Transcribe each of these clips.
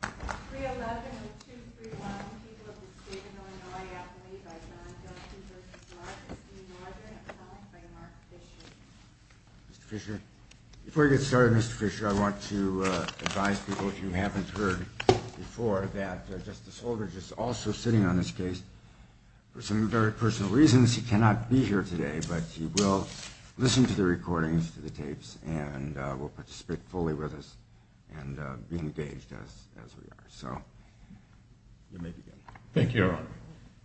311 and 231, people of the state of Illinois, after me, by John Delphi v. Marcus v. Northern, and followed by Mark Fisher. Mr. Fisher, before we get started, Mr. Fisher, I want to advise people, if you haven't heard before, that Justice Holdridge is also sitting on this case for some very personal reasons. He cannot be here today, but he will listen to the recordings, to the tapes, and will participate fully with us and be engaged as we are. You may begin. Thank you, Your Honor.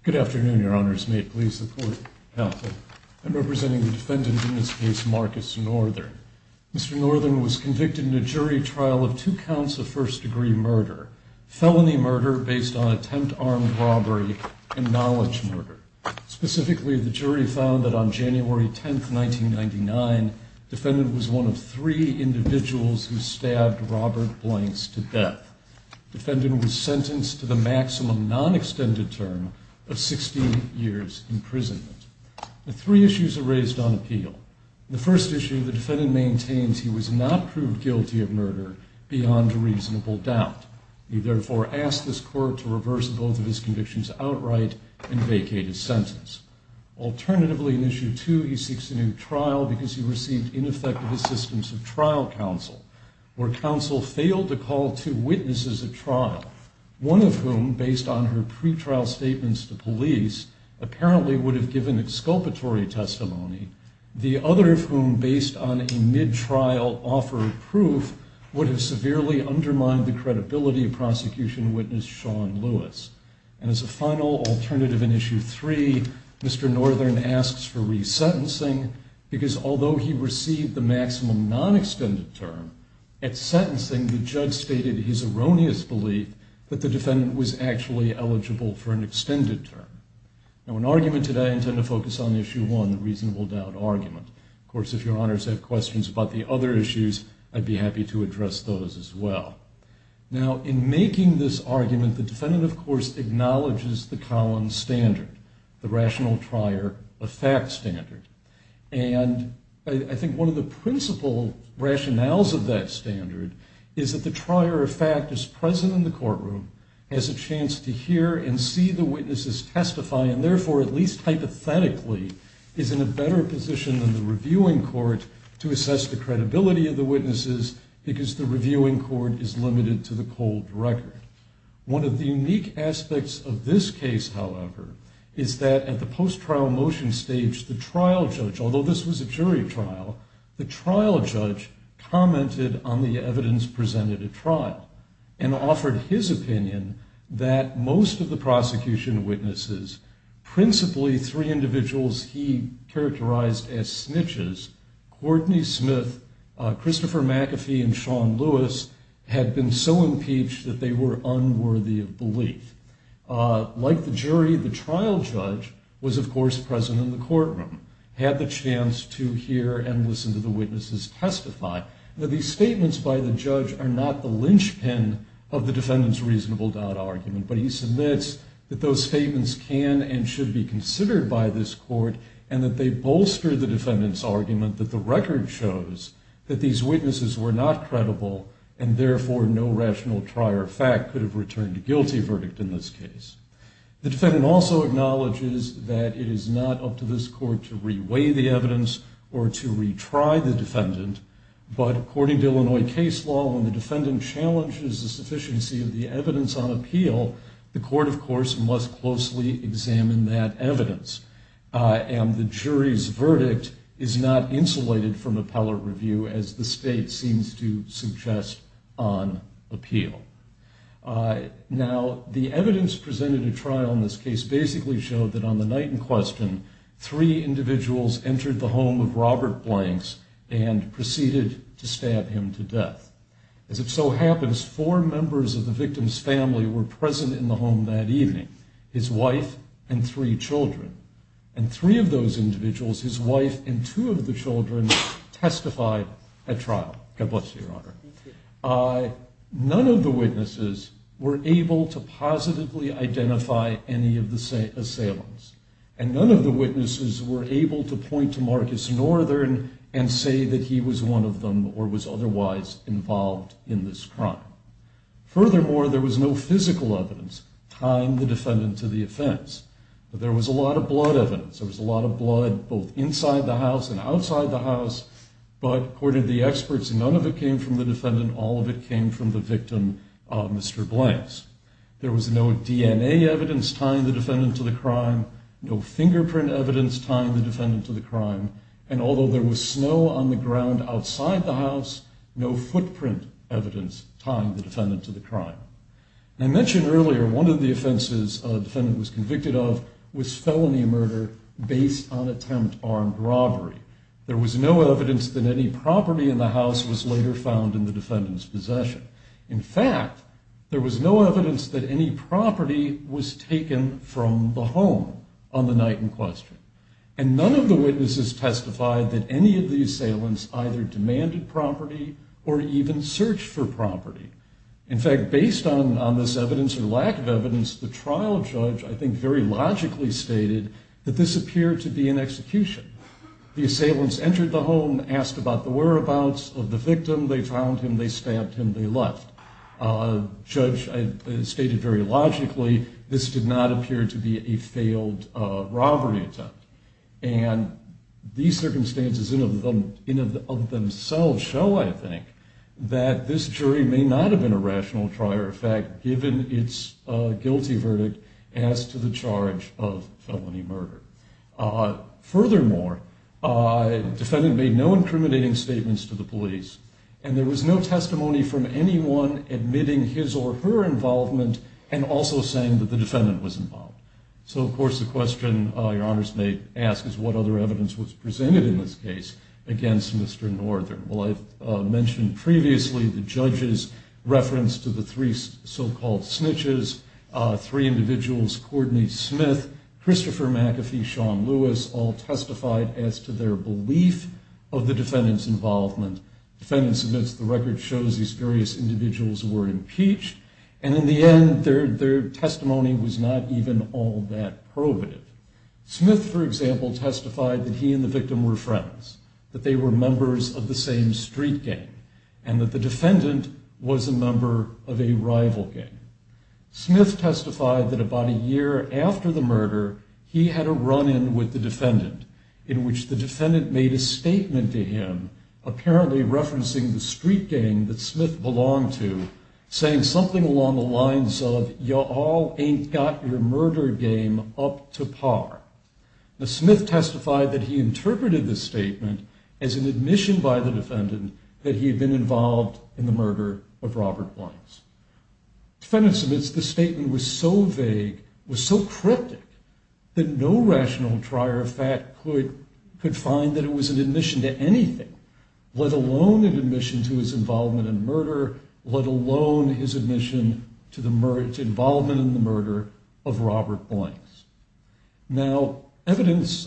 Good afternoon, Your Honors. May it please the Court. I'm representing the defendant in this case, Marcus Northern. Mr. Northern was convicted in a jury trial of two counts of first-degree murder, felony murder based on attempt armed robbery, and knowledge murder. Specifically, the jury found that on January 10, 1999, the defendant was one of three individuals who stabbed Robert Blanks to death. The defendant was sentenced to the maximum non-extended term of 16 years' imprisonment. Three issues are raised on appeal. The first issue, the defendant maintains he was not proved guilty of murder beyond a reasonable doubt. He therefore asked this Court to reverse both of his convictions outright and vacate his sentence. Alternatively, in issue two, he seeks a new trial because he received ineffective assistance of trial counsel, where counsel failed to call two witnesses at trial, one of whom, based on her pretrial statements to police, apparently would have given exculpatory testimony, the other of whom, based on a mid-trial offer of proof, would have severely undermined the credibility of prosecution witness Sean Lewis. And as a final alternative in issue three, Mr. Northern asks for resentencing because although he received the maximum non-extended term, at sentencing the judge stated his erroneous belief that the defendant was actually eligible for an extended term. Now, in argument today, I intend to focus on issue one, the reasonable doubt argument. Of course, if your honors have questions about the other issues, I'd be happy to address those as well. Now, in making this argument, the defendant, of course, acknowledges the Collins standard, the rational trier of fact standard. And I think one of the principal rationales of that standard is that the trier of fact is present in the courtroom, has a chance to hear and see the witnesses testify, and therefore, at least hypothetically, is in a better position than the reviewing court to assess the credibility of the witnesses because the reviewing court is limited to the cold record. One of the unique aspects of this case, however, is that at the post-trial motion stage, the trial judge, although this was a jury trial, the trial judge commented on the evidence presented at trial and offered his opinion that most of the prosecution witnesses, principally three individuals he characterized as snitches, Courtney Smith, Christopher McAfee, and Sean Lewis, had been so impeached that they were unworthy of belief. Like the jury, the trial judge was, of course, present in the courtroom, had the chance to hear and listen to the witnesses testify. Now, these statements by the judge are not the linchpin of the defendant's reasonable doubt argument, but he submits that those statements can and should be considered by this court and that they bolster the defendant's argument that the record shows that these witnesses were not credible and therefore no rational trier of fact could have returned a guilty verdict in this case. The defendant also acknowledges that it is not up to this court to reweigh the evidence or to retry the defendant, but according to Illinois case law, when the defendant challenges the sufficiency of the evidence on appeal, the court, of course, must closely examine that evidence, and the jury's verdict is not insulated from appellate review as the state seems to suggest on appeal. Now, the evidence presented at trial in this case basically showed that on the night in question, three individuals entered the home of Robert Blanks and proceeded to stab him to death. As it so happens, four members of the victim's family were present in the home that evening, his wife and three children, and three of those individuals, his wife and two of the children, testified at trial. God bless you, Your Honor. None of the witnesses were able to positively identify any of the assailants, and none of the witnesses were able to point to Marcus Northern and say that he was one of them or was otherwise involved in this crime. Furthermore, there was no physical evidence. Time the defendant to the offense. There was a lot of blood evidence. There was a lot of blood both inside the house and outside the house, but according to the experts, none of it came from the defendant. All of it came from the victim, Mr. Blanks. There was no DNA evidence tying the defendant to the crime, no fingerprint evidence tying the defendant to the crime, and although there was snow on the ground outside the house, no footprint evidence tying the defendant to the crime. I mentioned earlier one of the offenses a defendant was convicted of was felony murder based on attempt armed robbery. There was no evidence that any property in the house was later found in the defendant's possession. In fact, there was no evidence that any property was taken from the home on the night in question, and none of the witnesses testified that any of the assailants either demanded property or even searched for property. In fact, based on this evidence or lack of evidence, the trial judge I think very logically stated that this appeared to be an execution. The assailants entered the home, asked about the whereabouts of the victim. They found him. They stabbed him. They left. Judge stated very logically this did not appear to be a failed robbery attempt, and these circumstances in and of themselves show, I think, that this jury may not have been a rational trier of fact given its guilty verdict as to the charge of felony murder. Furthermore, the defendant made no incriminating statements to the police, and there was no testimony from anyone admitting his or her involvement and also saying that the defendant was involved. So, of course, the question Your Honors may ask is what other evidence was presented in this case against Mr. Northern. Well, I've mentioned previously the judge's reference to the three so-called snitches, three individuals, Courtney Smith, Christopher McAfee, Sean Lewis, all testified as to their belief of the defendant's involvement. Defendants admits the record shows these various individuals were impeached, and in the end their testimony was not even all that probative. Smith, for example, testified that he and the victim were friends, that they were members of the same street gang, and that the defendant was a member of a rival gang. Smith testified that about a year after the murder, he had a run-in with the defendant in which the defendant made a statement to him, apparently referencing the street gang that Smith belonged to, saying something along the lines of, You all ain't got your murder game up to par. Smith testified that he interpreted the statement as an admission by the defendant that he had been involved in the murder of Robert Blanks. Defendants admits the statement was so vague, was so cryptic, that no rational trier of fact could find that it was an admission to anything, let alone an admission to his involvement in murder, let alone his admission to involvement in the murder of Robert Blanks. Now, evidence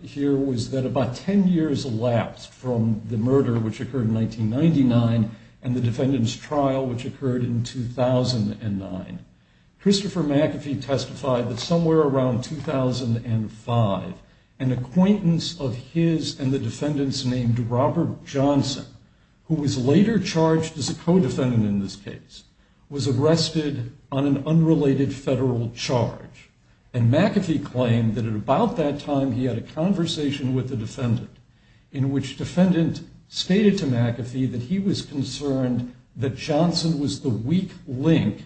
here was that about 10 years elapsed from the murder, which occurred in 1999, and the defendant's trial, which occurred in 2009. Christopher McAfee testified that somewhere around 2005, an acquaintance of his and the defendant's named Robert Johnson, who was later charged as a co-defendant in this case, was arrested on an unrelated federal charge. And McAfee claimed that at about that time he had a conversation with the defendant, in which defendant stated to McAfee that he was concerned that Johnson was the weak link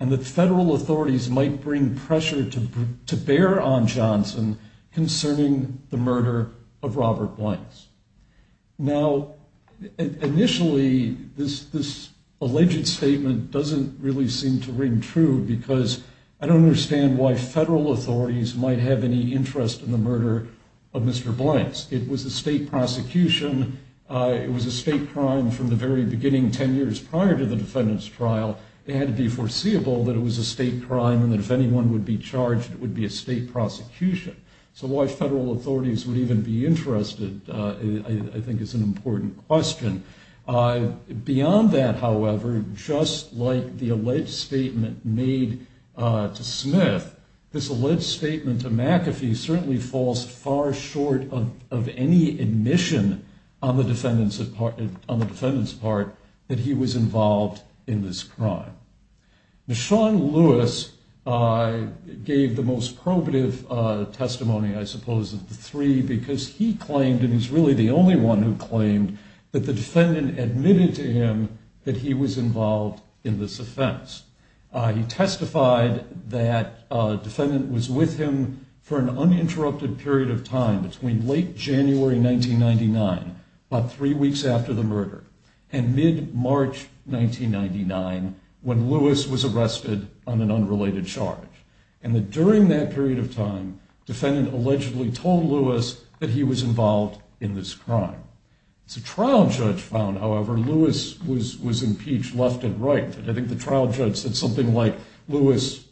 and that federal authorities might bring pressure to bear on Johnson concerning the murder of Robert Blanks. Now, initially, this alleged statement doesn't really seem to ring true, because I don't understand why federal authorities might have any interest in the murder of Mr. Blanks. It was a state prosecution. It was a state crime from the very beginning, 10 years prior to the defendant's trial. It had to be foreseeable that it was a state crime and that if anyone would be charged, it would be a state prosecution. So why federal authorities would even be interested, I think, is an important question. Beyond that, however, just like the alleged statement made to Smith, this alleged statement to McAfee certainly falls far short of any admission on the defendant's part that he was involved in this crime. Now, Sean Lewis gave the most probative testimony, I suppose, of the three, because he claimed, and he's really the only one who claimed, that the defendant admitted to him that he was involved in this offense. He testified that a defendant was with him for an uninterrupted period of time between late January 1999, about three weeks after the murder, and mid-March 1999, when Lewis was arrested on an unrelated charge, and that during that period of time, the defendant allegedly told Lewis that he was involved in this crime. As a trial judge found, however, Lewis was impeached left and right. I think the trial judge said something like, Lewis,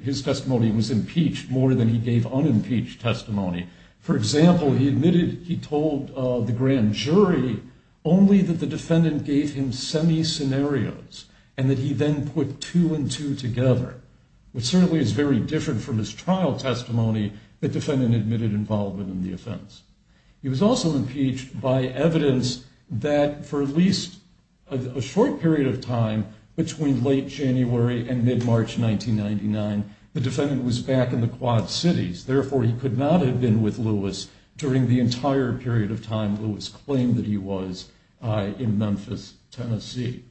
his testimony was impeached more than he gave unimpeached testimony. For example, he admitted he told the grand jury only that the defendant gave him semi-scenarios, and that he then put two and two together, which certainly is very different from his trial testimony that the defendant admitted involvement in the offense. He was also impeached by evidence that for at least a short period of time between late January and mid-March 1999, the defendant was back in the Quad Cities. Therefore, he could not have been with Lewis during the entire period of time Lewis claimed that he was in Memphis, Tennessee.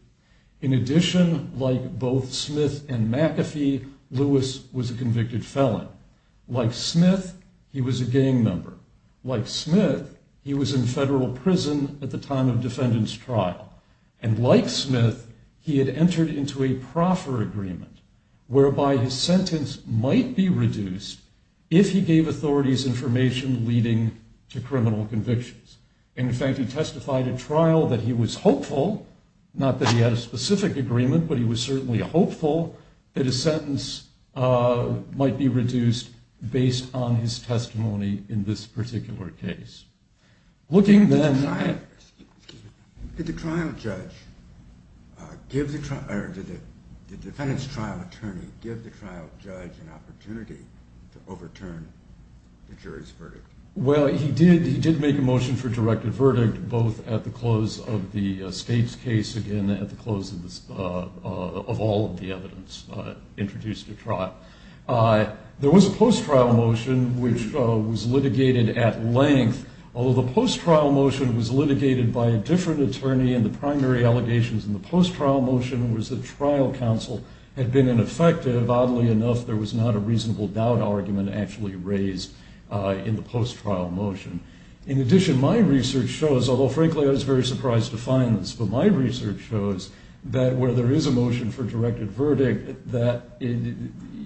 In addition, like both Smith and McAfee, Lewis was a convicted felon. Like Smith, he was a gang member. Like Smith, he was in federal prison at the time of defendant's trial. And like Smith, he had entered into a proffer agreement whereby his sentence might be reduced if he gave authorities information leading to criminal convictions. In fact, he testified at trial that he was hopeful, not that he had a specific agreement, but he was certainly hopeful that his sentence might be reduced based on his testimony in this particular case. Did the defendant's trial attorney give the trial judge an opportunity to overturn the jury's verdict? Well, he did make a motion for a directed verdict both at the close of the state's case, again, at the close of all of the evidence introduced at trial. There was a post-trial motion which was litigated at length, although the post-trial motion was litigated by a different attorney and the primary allegations in the post-trial motion was that trial counsel had been ineffective. Oddly enough, there was not a reasonable doubt argument actually raised in the post-trial motion. In addition, my research shows, although frankly I was very surprised to find this, but my research shows that where there is a motion for a directed verdict,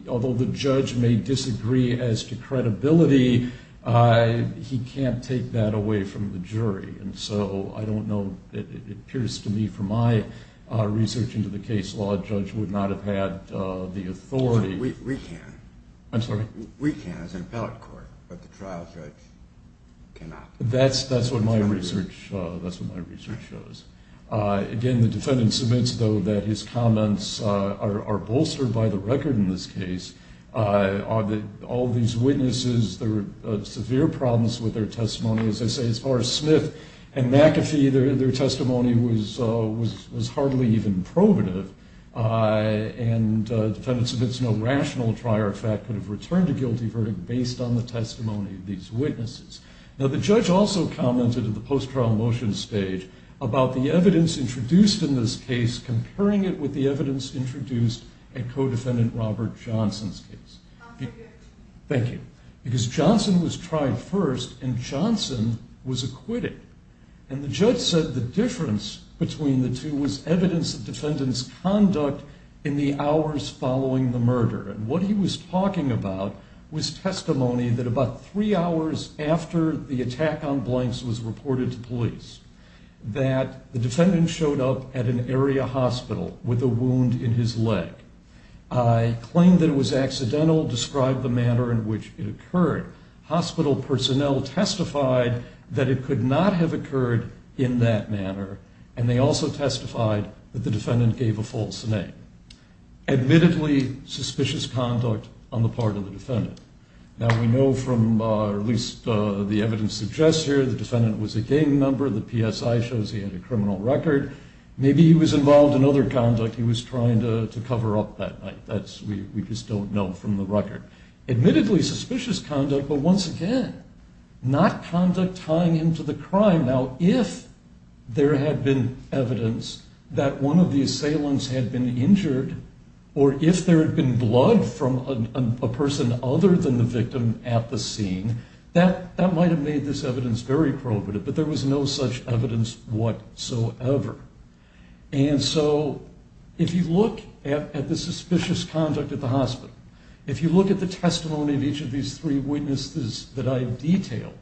although the judge may disagree as to credibility, he can't take that away from the jury. And so I don't know. It appears to me from my research into the case law, a judge would not have had the authority. We can. I'm sorry? We can as an appellate court, but the trial judge cannot. That's what my research shows. Again, the defendant submits, though, that his comments are bolstered by the record in this case. All these witnesses, there were severe problems with their testimony. As I say, as far as Smith and McAfee, their testimony was hardly even probative, and the defendant submits no rational trier of fact could have returned a guilty verdict based on the testimony of these witnesses. Now, the judge also commented at the post-trial motion stage about the evidence introduced in this case, comparing it with the evidence introduced in co-defendant Robert Johnson's case. Thank you. Because Johnson was tried first, and Johnson was acquitted. And the judge said the difference between the two was evidence of defendant's conduct in the hours following the murder. And what he was talking about was testimony that about three hours after the attack on Blanks was reported to police, that the defendant showed up at an area hospital with a wound in his leg. Claimed that it was accidental, described the manner in which it occurred. Hospital personnel testified that it could not have occurred in that manner, and they also testified that the defendant gave a false name. Admittedly, suspicious conduct on the part of the defendant. Now, we know from, or at least the evidence suggests here, the defendant was a gang member. The PSI shows he had a criminal record. Maybe he was involved in other conduct he was trying to cover up that night. We just don't know from the record. Admittedly, suspicious conduct, but once again, not conduct tying into the crime. Now, if there had been evidence that one of the assailants had been injured, or if there had been blood from a person other than the victim at the scene, that might have made this evidence very corroborative, but there was no such evidence whatsoever. And so if you look at the suspicious conduct at the hospital, if you look at the testimony of each of these three witnesses that I have detailed,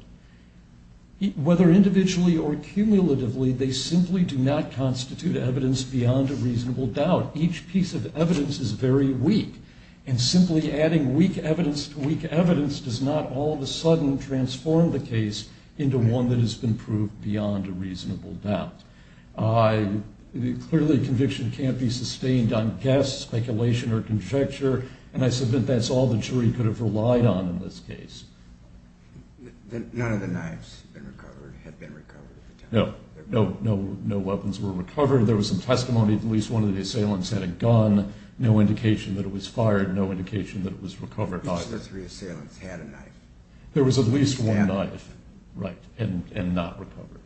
whether individually or cumulatively, they simply do not constitute evidence beyond a reasonable doubt. Each piece of evidence is very weak, and simply adding weak evidence to weak evidence does not all of a sudden transform the case into one that has been proved beyond a reasonable doubt. Clearly, conviction can't be sustained on guess, speculation, or conjecture, and I submit that's all the jury could have relied on in this case. None of the knives had been recovered at the time? No. No weapons were recovered. There was some testimony that at least one of the assailants had a gun. No indication that it was fired. No indication that it was recovered either. Each of the three assailants had a knife. There was at least one knife, right, and not recovered.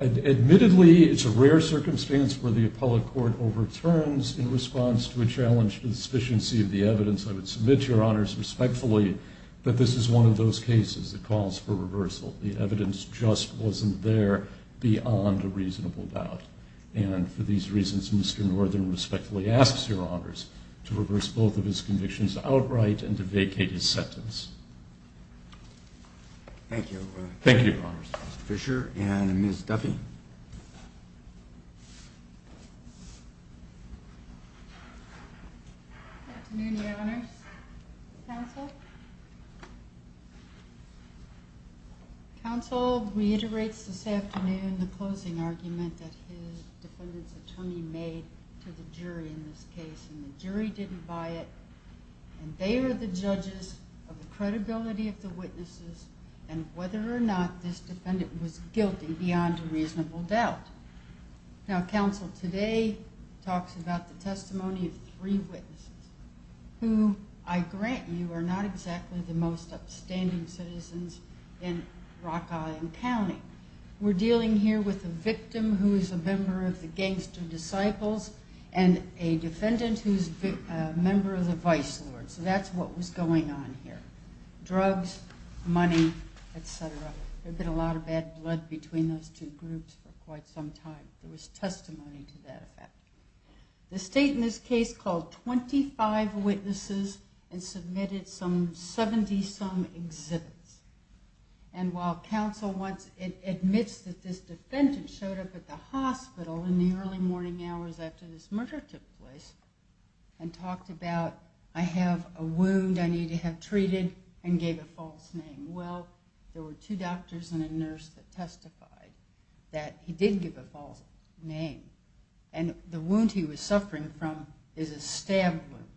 Admittedly, it's a rare circumstance where the appellate court overturns in response to a challenged sufficiency of the evidence. I would submit to your honors respectfully that this is one of those cases that calls for reversal. The evidence just wasn't there beyond a reasonable doubt, and for these reasons Mr. Northern respectfully asks your honors to reverse both of his convictions outright and to vacate his sentence. Thank you. Thank you, your honors. Mr. Fisher and Ms. Duffy. Good afternoon, your honors. Counsel? Counsel reiterates this afternoon the closing argument that his defendant's attorney made to the jury in this case, and the jury didn't buy it, and they are the judges of the credibility of the witnesses and whether or not this defendant was guilty beyond a reasonable doubt. Now, counsel, today talks about the testimony of three witnesses, who I grant you are not exactly the most upstanding citizens in Rock Island County. We're dealing here with a victim who is a member of the Gangster Disciples and a defendant who is a member of the Vice Lords. That's what was going on here. Drugs, money, et cetera. There had been a lot of bad blood between those two groups for quite some time. There was testimony to that effect. The state in this case called 25 witnesses and submitted some 70-some exhibits, and while counsel admits that this defendant showed up at the hospital in the early morning hours after this murder took place and talked about, I have a wound I need to have treated, and gave a false name. Well, there were two doctors and a nurse that testified that he did give a false name, and the wound he was suffering from is a stab wound,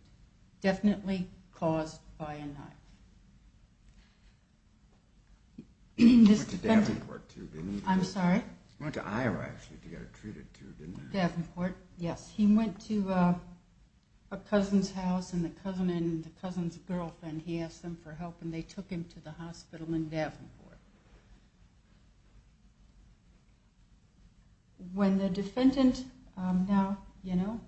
definitely caused by a knife. He went to Davenport, too, didn't he? I'm sorry? He went to Iowa, actually, to get it treated, too, didn't he? Davenport, yes. He went to a cousin's house, and the cousin's girlfriend, he asked them for help, and they took him to the hospital in Davenport. When the defendant now, you know,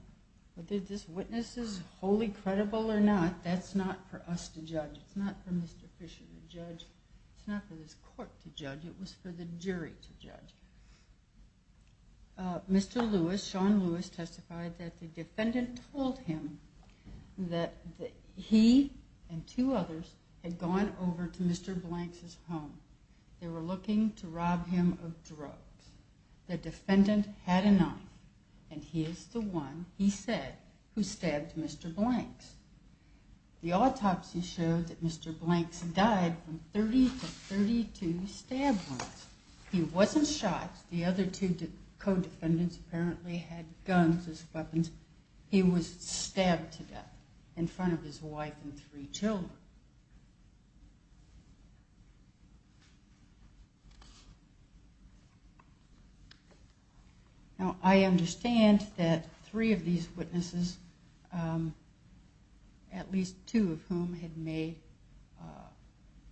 whether this witness is wholly credible or not, that's not for us to judge. It's not for Mr. Fisher to judge. It's not for this court to judge. It was for the jury to judge. Mr. Lewis, Sean Lewis, testified that the defendant told him that he and two others had gone over to Mr. Blanks' home. They were looking to rob him of drugs. The defendant had a knife, and he is the one, he said, who stabbed Mr. Blanks. The autopsy showed that Mr. Blanks died from 30 to 32 stab wounds. He wasn't shot. The other two co-defendants apparently had guns as weapons. He was stabbed to death in front of his wife and three children. Now, I understand that three of these witnesses, at least two of whom, had made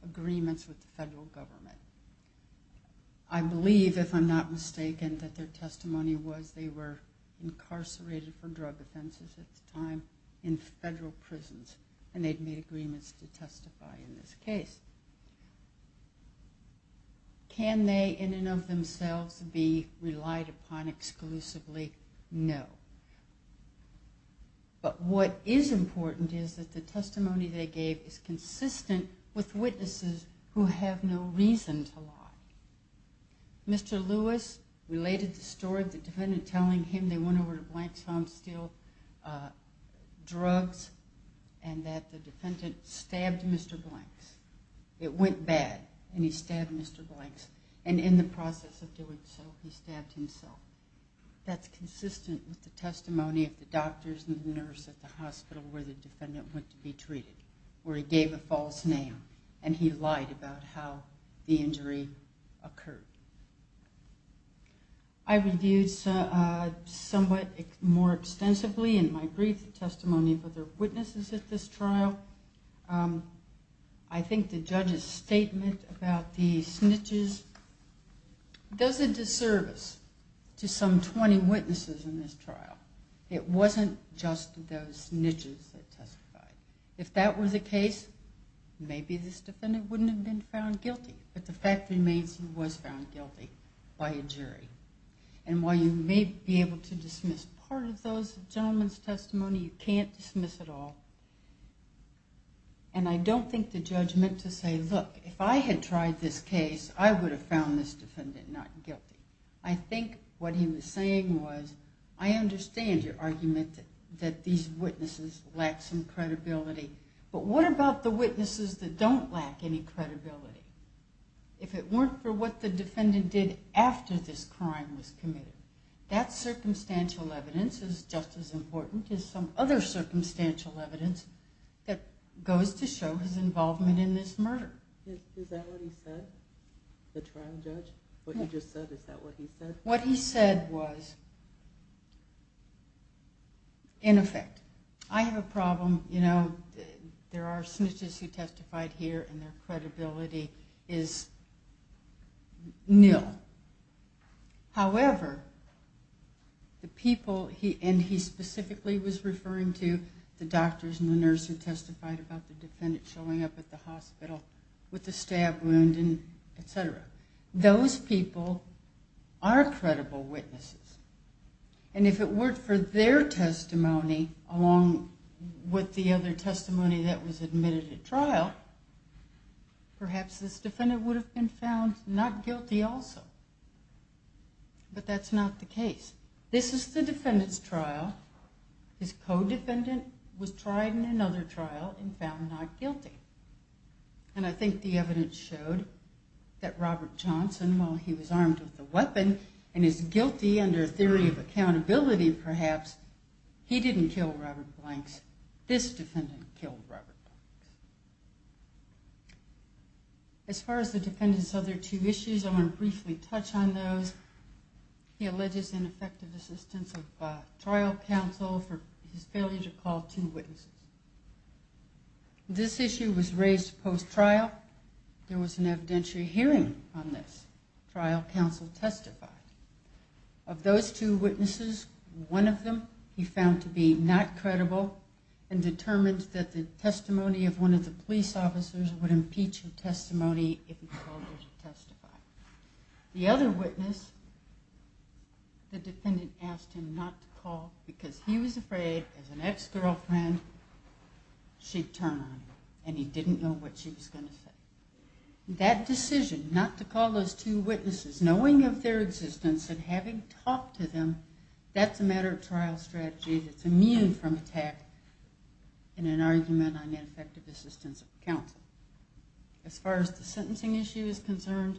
agreements with the federal government. I believe, if I'm not mistaken, that their testimony was they were incarcerated for drug offenses at the time in federal prisons, and they'd made agreements to testify in this case. Can they, in and of themselves, be relied upon exclusively? No. But what is important is that the testimony they gave is consistent with witnesses who have no reason to lie. Mr. Lewis related the story of the defendant telling him they went over to Blanks' home to steal drugs, and that the defendant stabbed Mr. Blanks. It went bad, and he stabbed Mr. Blanks. And in the process of doing so, he stabbed himself. That's consistent with the testimony of the doctors and the nurse at the hospital where the defendant went to be treated, where he gave a false name, and he lied about how the injury occurred. I reviewed somewhat more extensively in my brief the testimony of other witnesses at this trial. I think the judge's statement about the snitches does a disservice to some 20 witnesses in this trial. It wasn't just those snitches that testified. If that was the case, maybe this defendant wouldn't have been found guilty, but the fact remains he was found guilty by a jury. And while you may be able to dismiss part of those gentlemen's testimony, you can't dismiss it all. And I don't think the judge meant to say, look, if I had tried this case, I would have found this defendant not guilty. I think what he was saying was, I understand your argument that these witnesses lack some credibility, but what about the witnesses that don't lack any credibility? If it weren't for what the defendant did after this crime was committed, that circumstantial evidence is just as important as some other circumstantial evidence that goes to show his involvement in this murder. Is that what he said, the trial judge? What he just said, is that what he said? What he said was, in effect, I have a problem. There are snitches who testified here, and their credibility is nil. However, the people, and he specifically was referring to the doctors and the nurse who testified about the defendant showing up at the hospital with the stab wound, et cetera. Those people are credible witnesses. And if it weren't for their testimony, along with the other testimony that was admitted at trial, perhaps this defendant would have been found not guilty also. This is the defendant's trial. His co-defendant was tried in another trial and found not guilty. And I think the evidence showed that Robert Johnson, while he was armed with a weapon, and is guilty under a theory of accountability perhaps, he didn't kill Robert Blanks. This defendant killed Robert Blanks. As far as the defendant's other two issues, I want to briefly touch on those. He alleges ineffective assistance of trial counsel for his failure to call two witnesses. This issue was raised post-trial. There was an evidentiary hearing on this. Trial counsel testified. Of those two witnesses, one of them he found to be not credible and determined that the testimony of one of the police officers would impeach his testimony if he told her to testify. The other witness, the defendant asked him not to call because he was afraid, as an ex-girlfriend, she'd turn on him and he didn't know what she was going to say. That decision, not to call those two witnesses, knowing of their existence and having talked to them, that's a matter of trial strategy that's immune from attack in an argument on ineffective assistance of counsel. As far as the sentencing issue is concerned,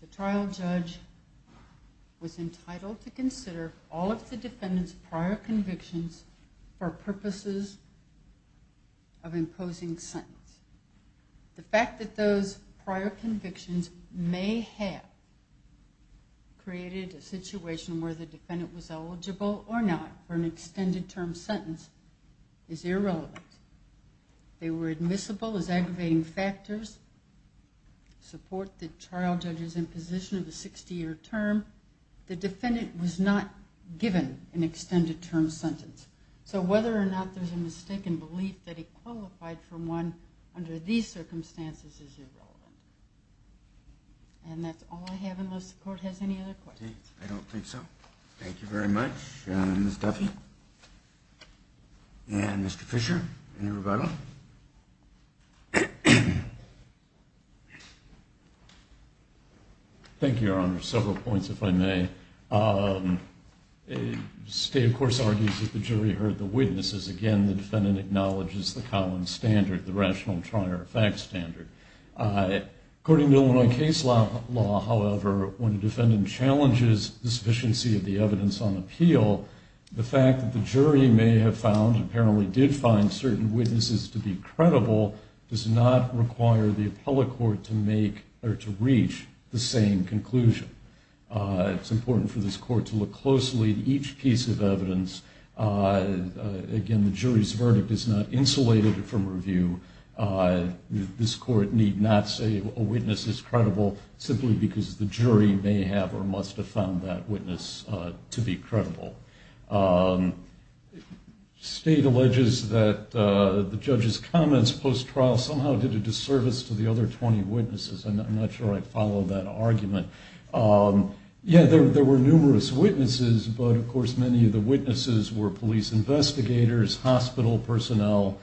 the trial judge was entitled to consider all of the defendant's prior convictions for purposes of imposing sentence. The fact that those prior convictions may have created a situation where the defendant was eligible or not for an extended-term sentence is irrelevant. They were admissible as aggravating factors, support the trial judge's imposition of a 60-year term. The defendant was not given an extended-term sentence. So whether or not there's a mistaken belief that he qualified for one under these circumstances is irrelevant. And that's all I have unless the Court has any other questions. I don't think so. Thank you very much, Ms. Duffy. And Mr. Fisher, any rebuttal? Thank you, Your Honor. Several points, if I may. The State, of course, argues that the jury heard the witnesses. Again, the defendant acknowledges the Collins standard, the rational trial-or-effect standard. According to Illinois case law, however, when a defendant challenges the sufficiency of the evidence on appeal, the fact that the jury may have found, apparently did find certain witnesses to be credible, does not require the appellate court to reach the same conclusion. It's important for this Court to look closely at each piece of evidence. Again, the jury's verdict is not insulated from review. This Court need not say a witness is credible simply because the jury may have or must have found that witness to be credible. State alleges that the judge's comments post-trial somehow did a disservice to the other 20 witnesses. I'm not sure I follow that argument. Yeah, there were numerous witnesses, but, of course, many of the witnesses were police investigators, hospital personnel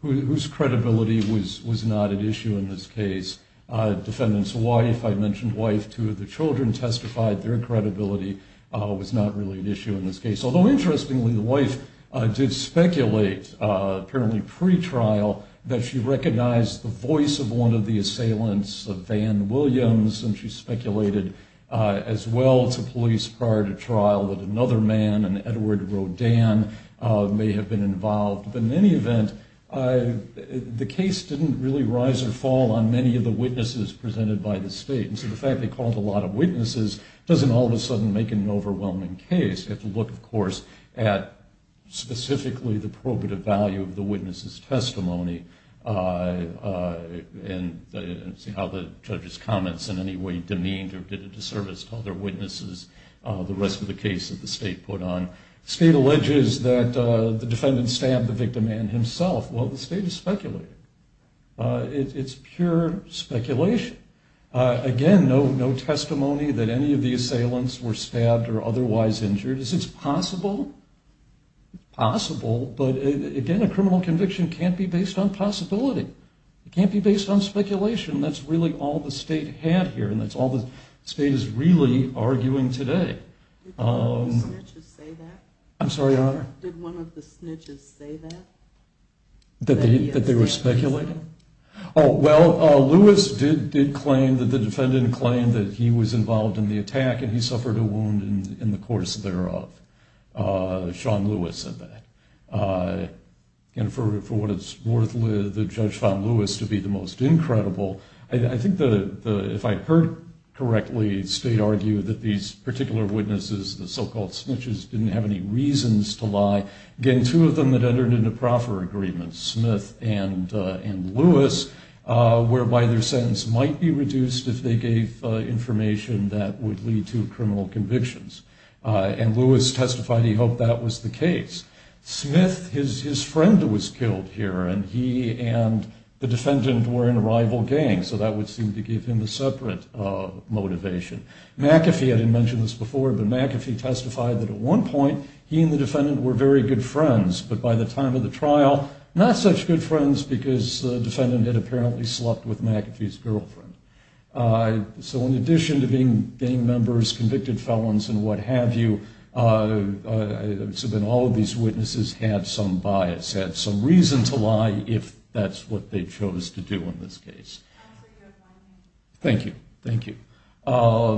whose credibility was not at issue in this case. The defendant's wife, I mentioned wife, two of the children testified their credibility was not really an issue in this case. Although, interestingly, the wife did speculate, apparently pre-trial, that she recognized the voice of one of the assailants, Van Williams, and she speculated as well to police prior to trial that another man, an Edward Rodin, may have been involved. But in any event, the case didn't really rise or fall on many of the witnesses presented by the state. And so the fact they called a lot of witnesses doesn't all of a sudden make it an overwhelming case. You have to look, of course, at specifically the probative value of the witness's testimony and see how the judge's comments in any way demeaned or did a disservice to other witnesses, the rest of the case that the state put on. State alleges that the defendant stabbed the victim and himself. Well, the state is speculating. It's pure speculation. Again, no testimony that any of the assailants were stabbed or otherwise injured. Is this possible? It's possible, but, again, a criminal conviction can't be based on possibility. It can't be based on speculation. That's really all the state had here, and that's all the state is really arguing today. Did one of the snitches say that? I'm sorry, Your Honor? Did one of the snitches say that? That they were speculating? Oh, well, Lewis did claim that the defendant claimed that he was involved in the attack and he suffered a wound in the course thereof. Sean Lewis said that. And for what it's worth, the judge found Lewis to be the most incredible. I think if I heard correctly, the state argued that these particular witnesses, the so-called snitches, didn't have any reasons to lie. Again, two of them had entered into proffer agreements, Smith and Lewis, whereby their sentence might be reduced if they gave information that would lead to criminal convictions. And Lewis testified he hoped that was the case. Smith, his friend was killed here, and he and the defendant were in a rival gang, so that would seem to give him a separate motivation. McAfee, I didn't mention this before, but McAfee testified that at one point he and the defendant were very good friends, but by the time of the trial, not such good friends because the defendant had apparently slept with McAfee's girlfriend. So in addition to gang members, convicted felons, and what have you, all of these witnesses had some bias, had some reason to lie, if that's what they chose to do in this case. Thank you, thank you. Also,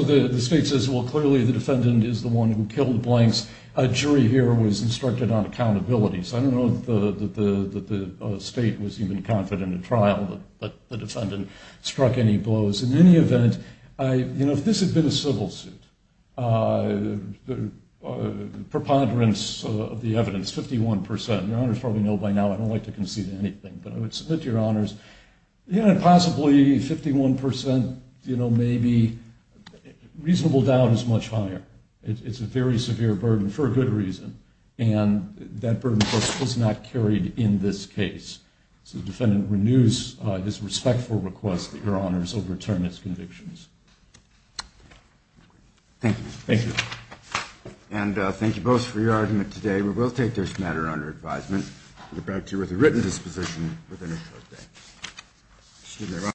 the state says, well, clearly the defendant is the one who killed Blanks. A jury here was instructed on accountability, so I don't know that the state was even confident in the trial that the defendant struck any blows. In any event, you know, if this had been a civil suit, preponderance of the evidence, 51%, your honors probably know by now I don't like to concede anything, but I would submit to your honors, possibly 51%, you know, maybe reasonable doubt is much higher. It's a very severe burden for a good reason, and that burden, of course, was not carried in this case. So the defendant renews his respectful request that your honors overturn his convictions. Thank you. Thank you. And thank you both for your argument today. We will take this matter under advisement. We'll be back to you with a written disposition within a short time.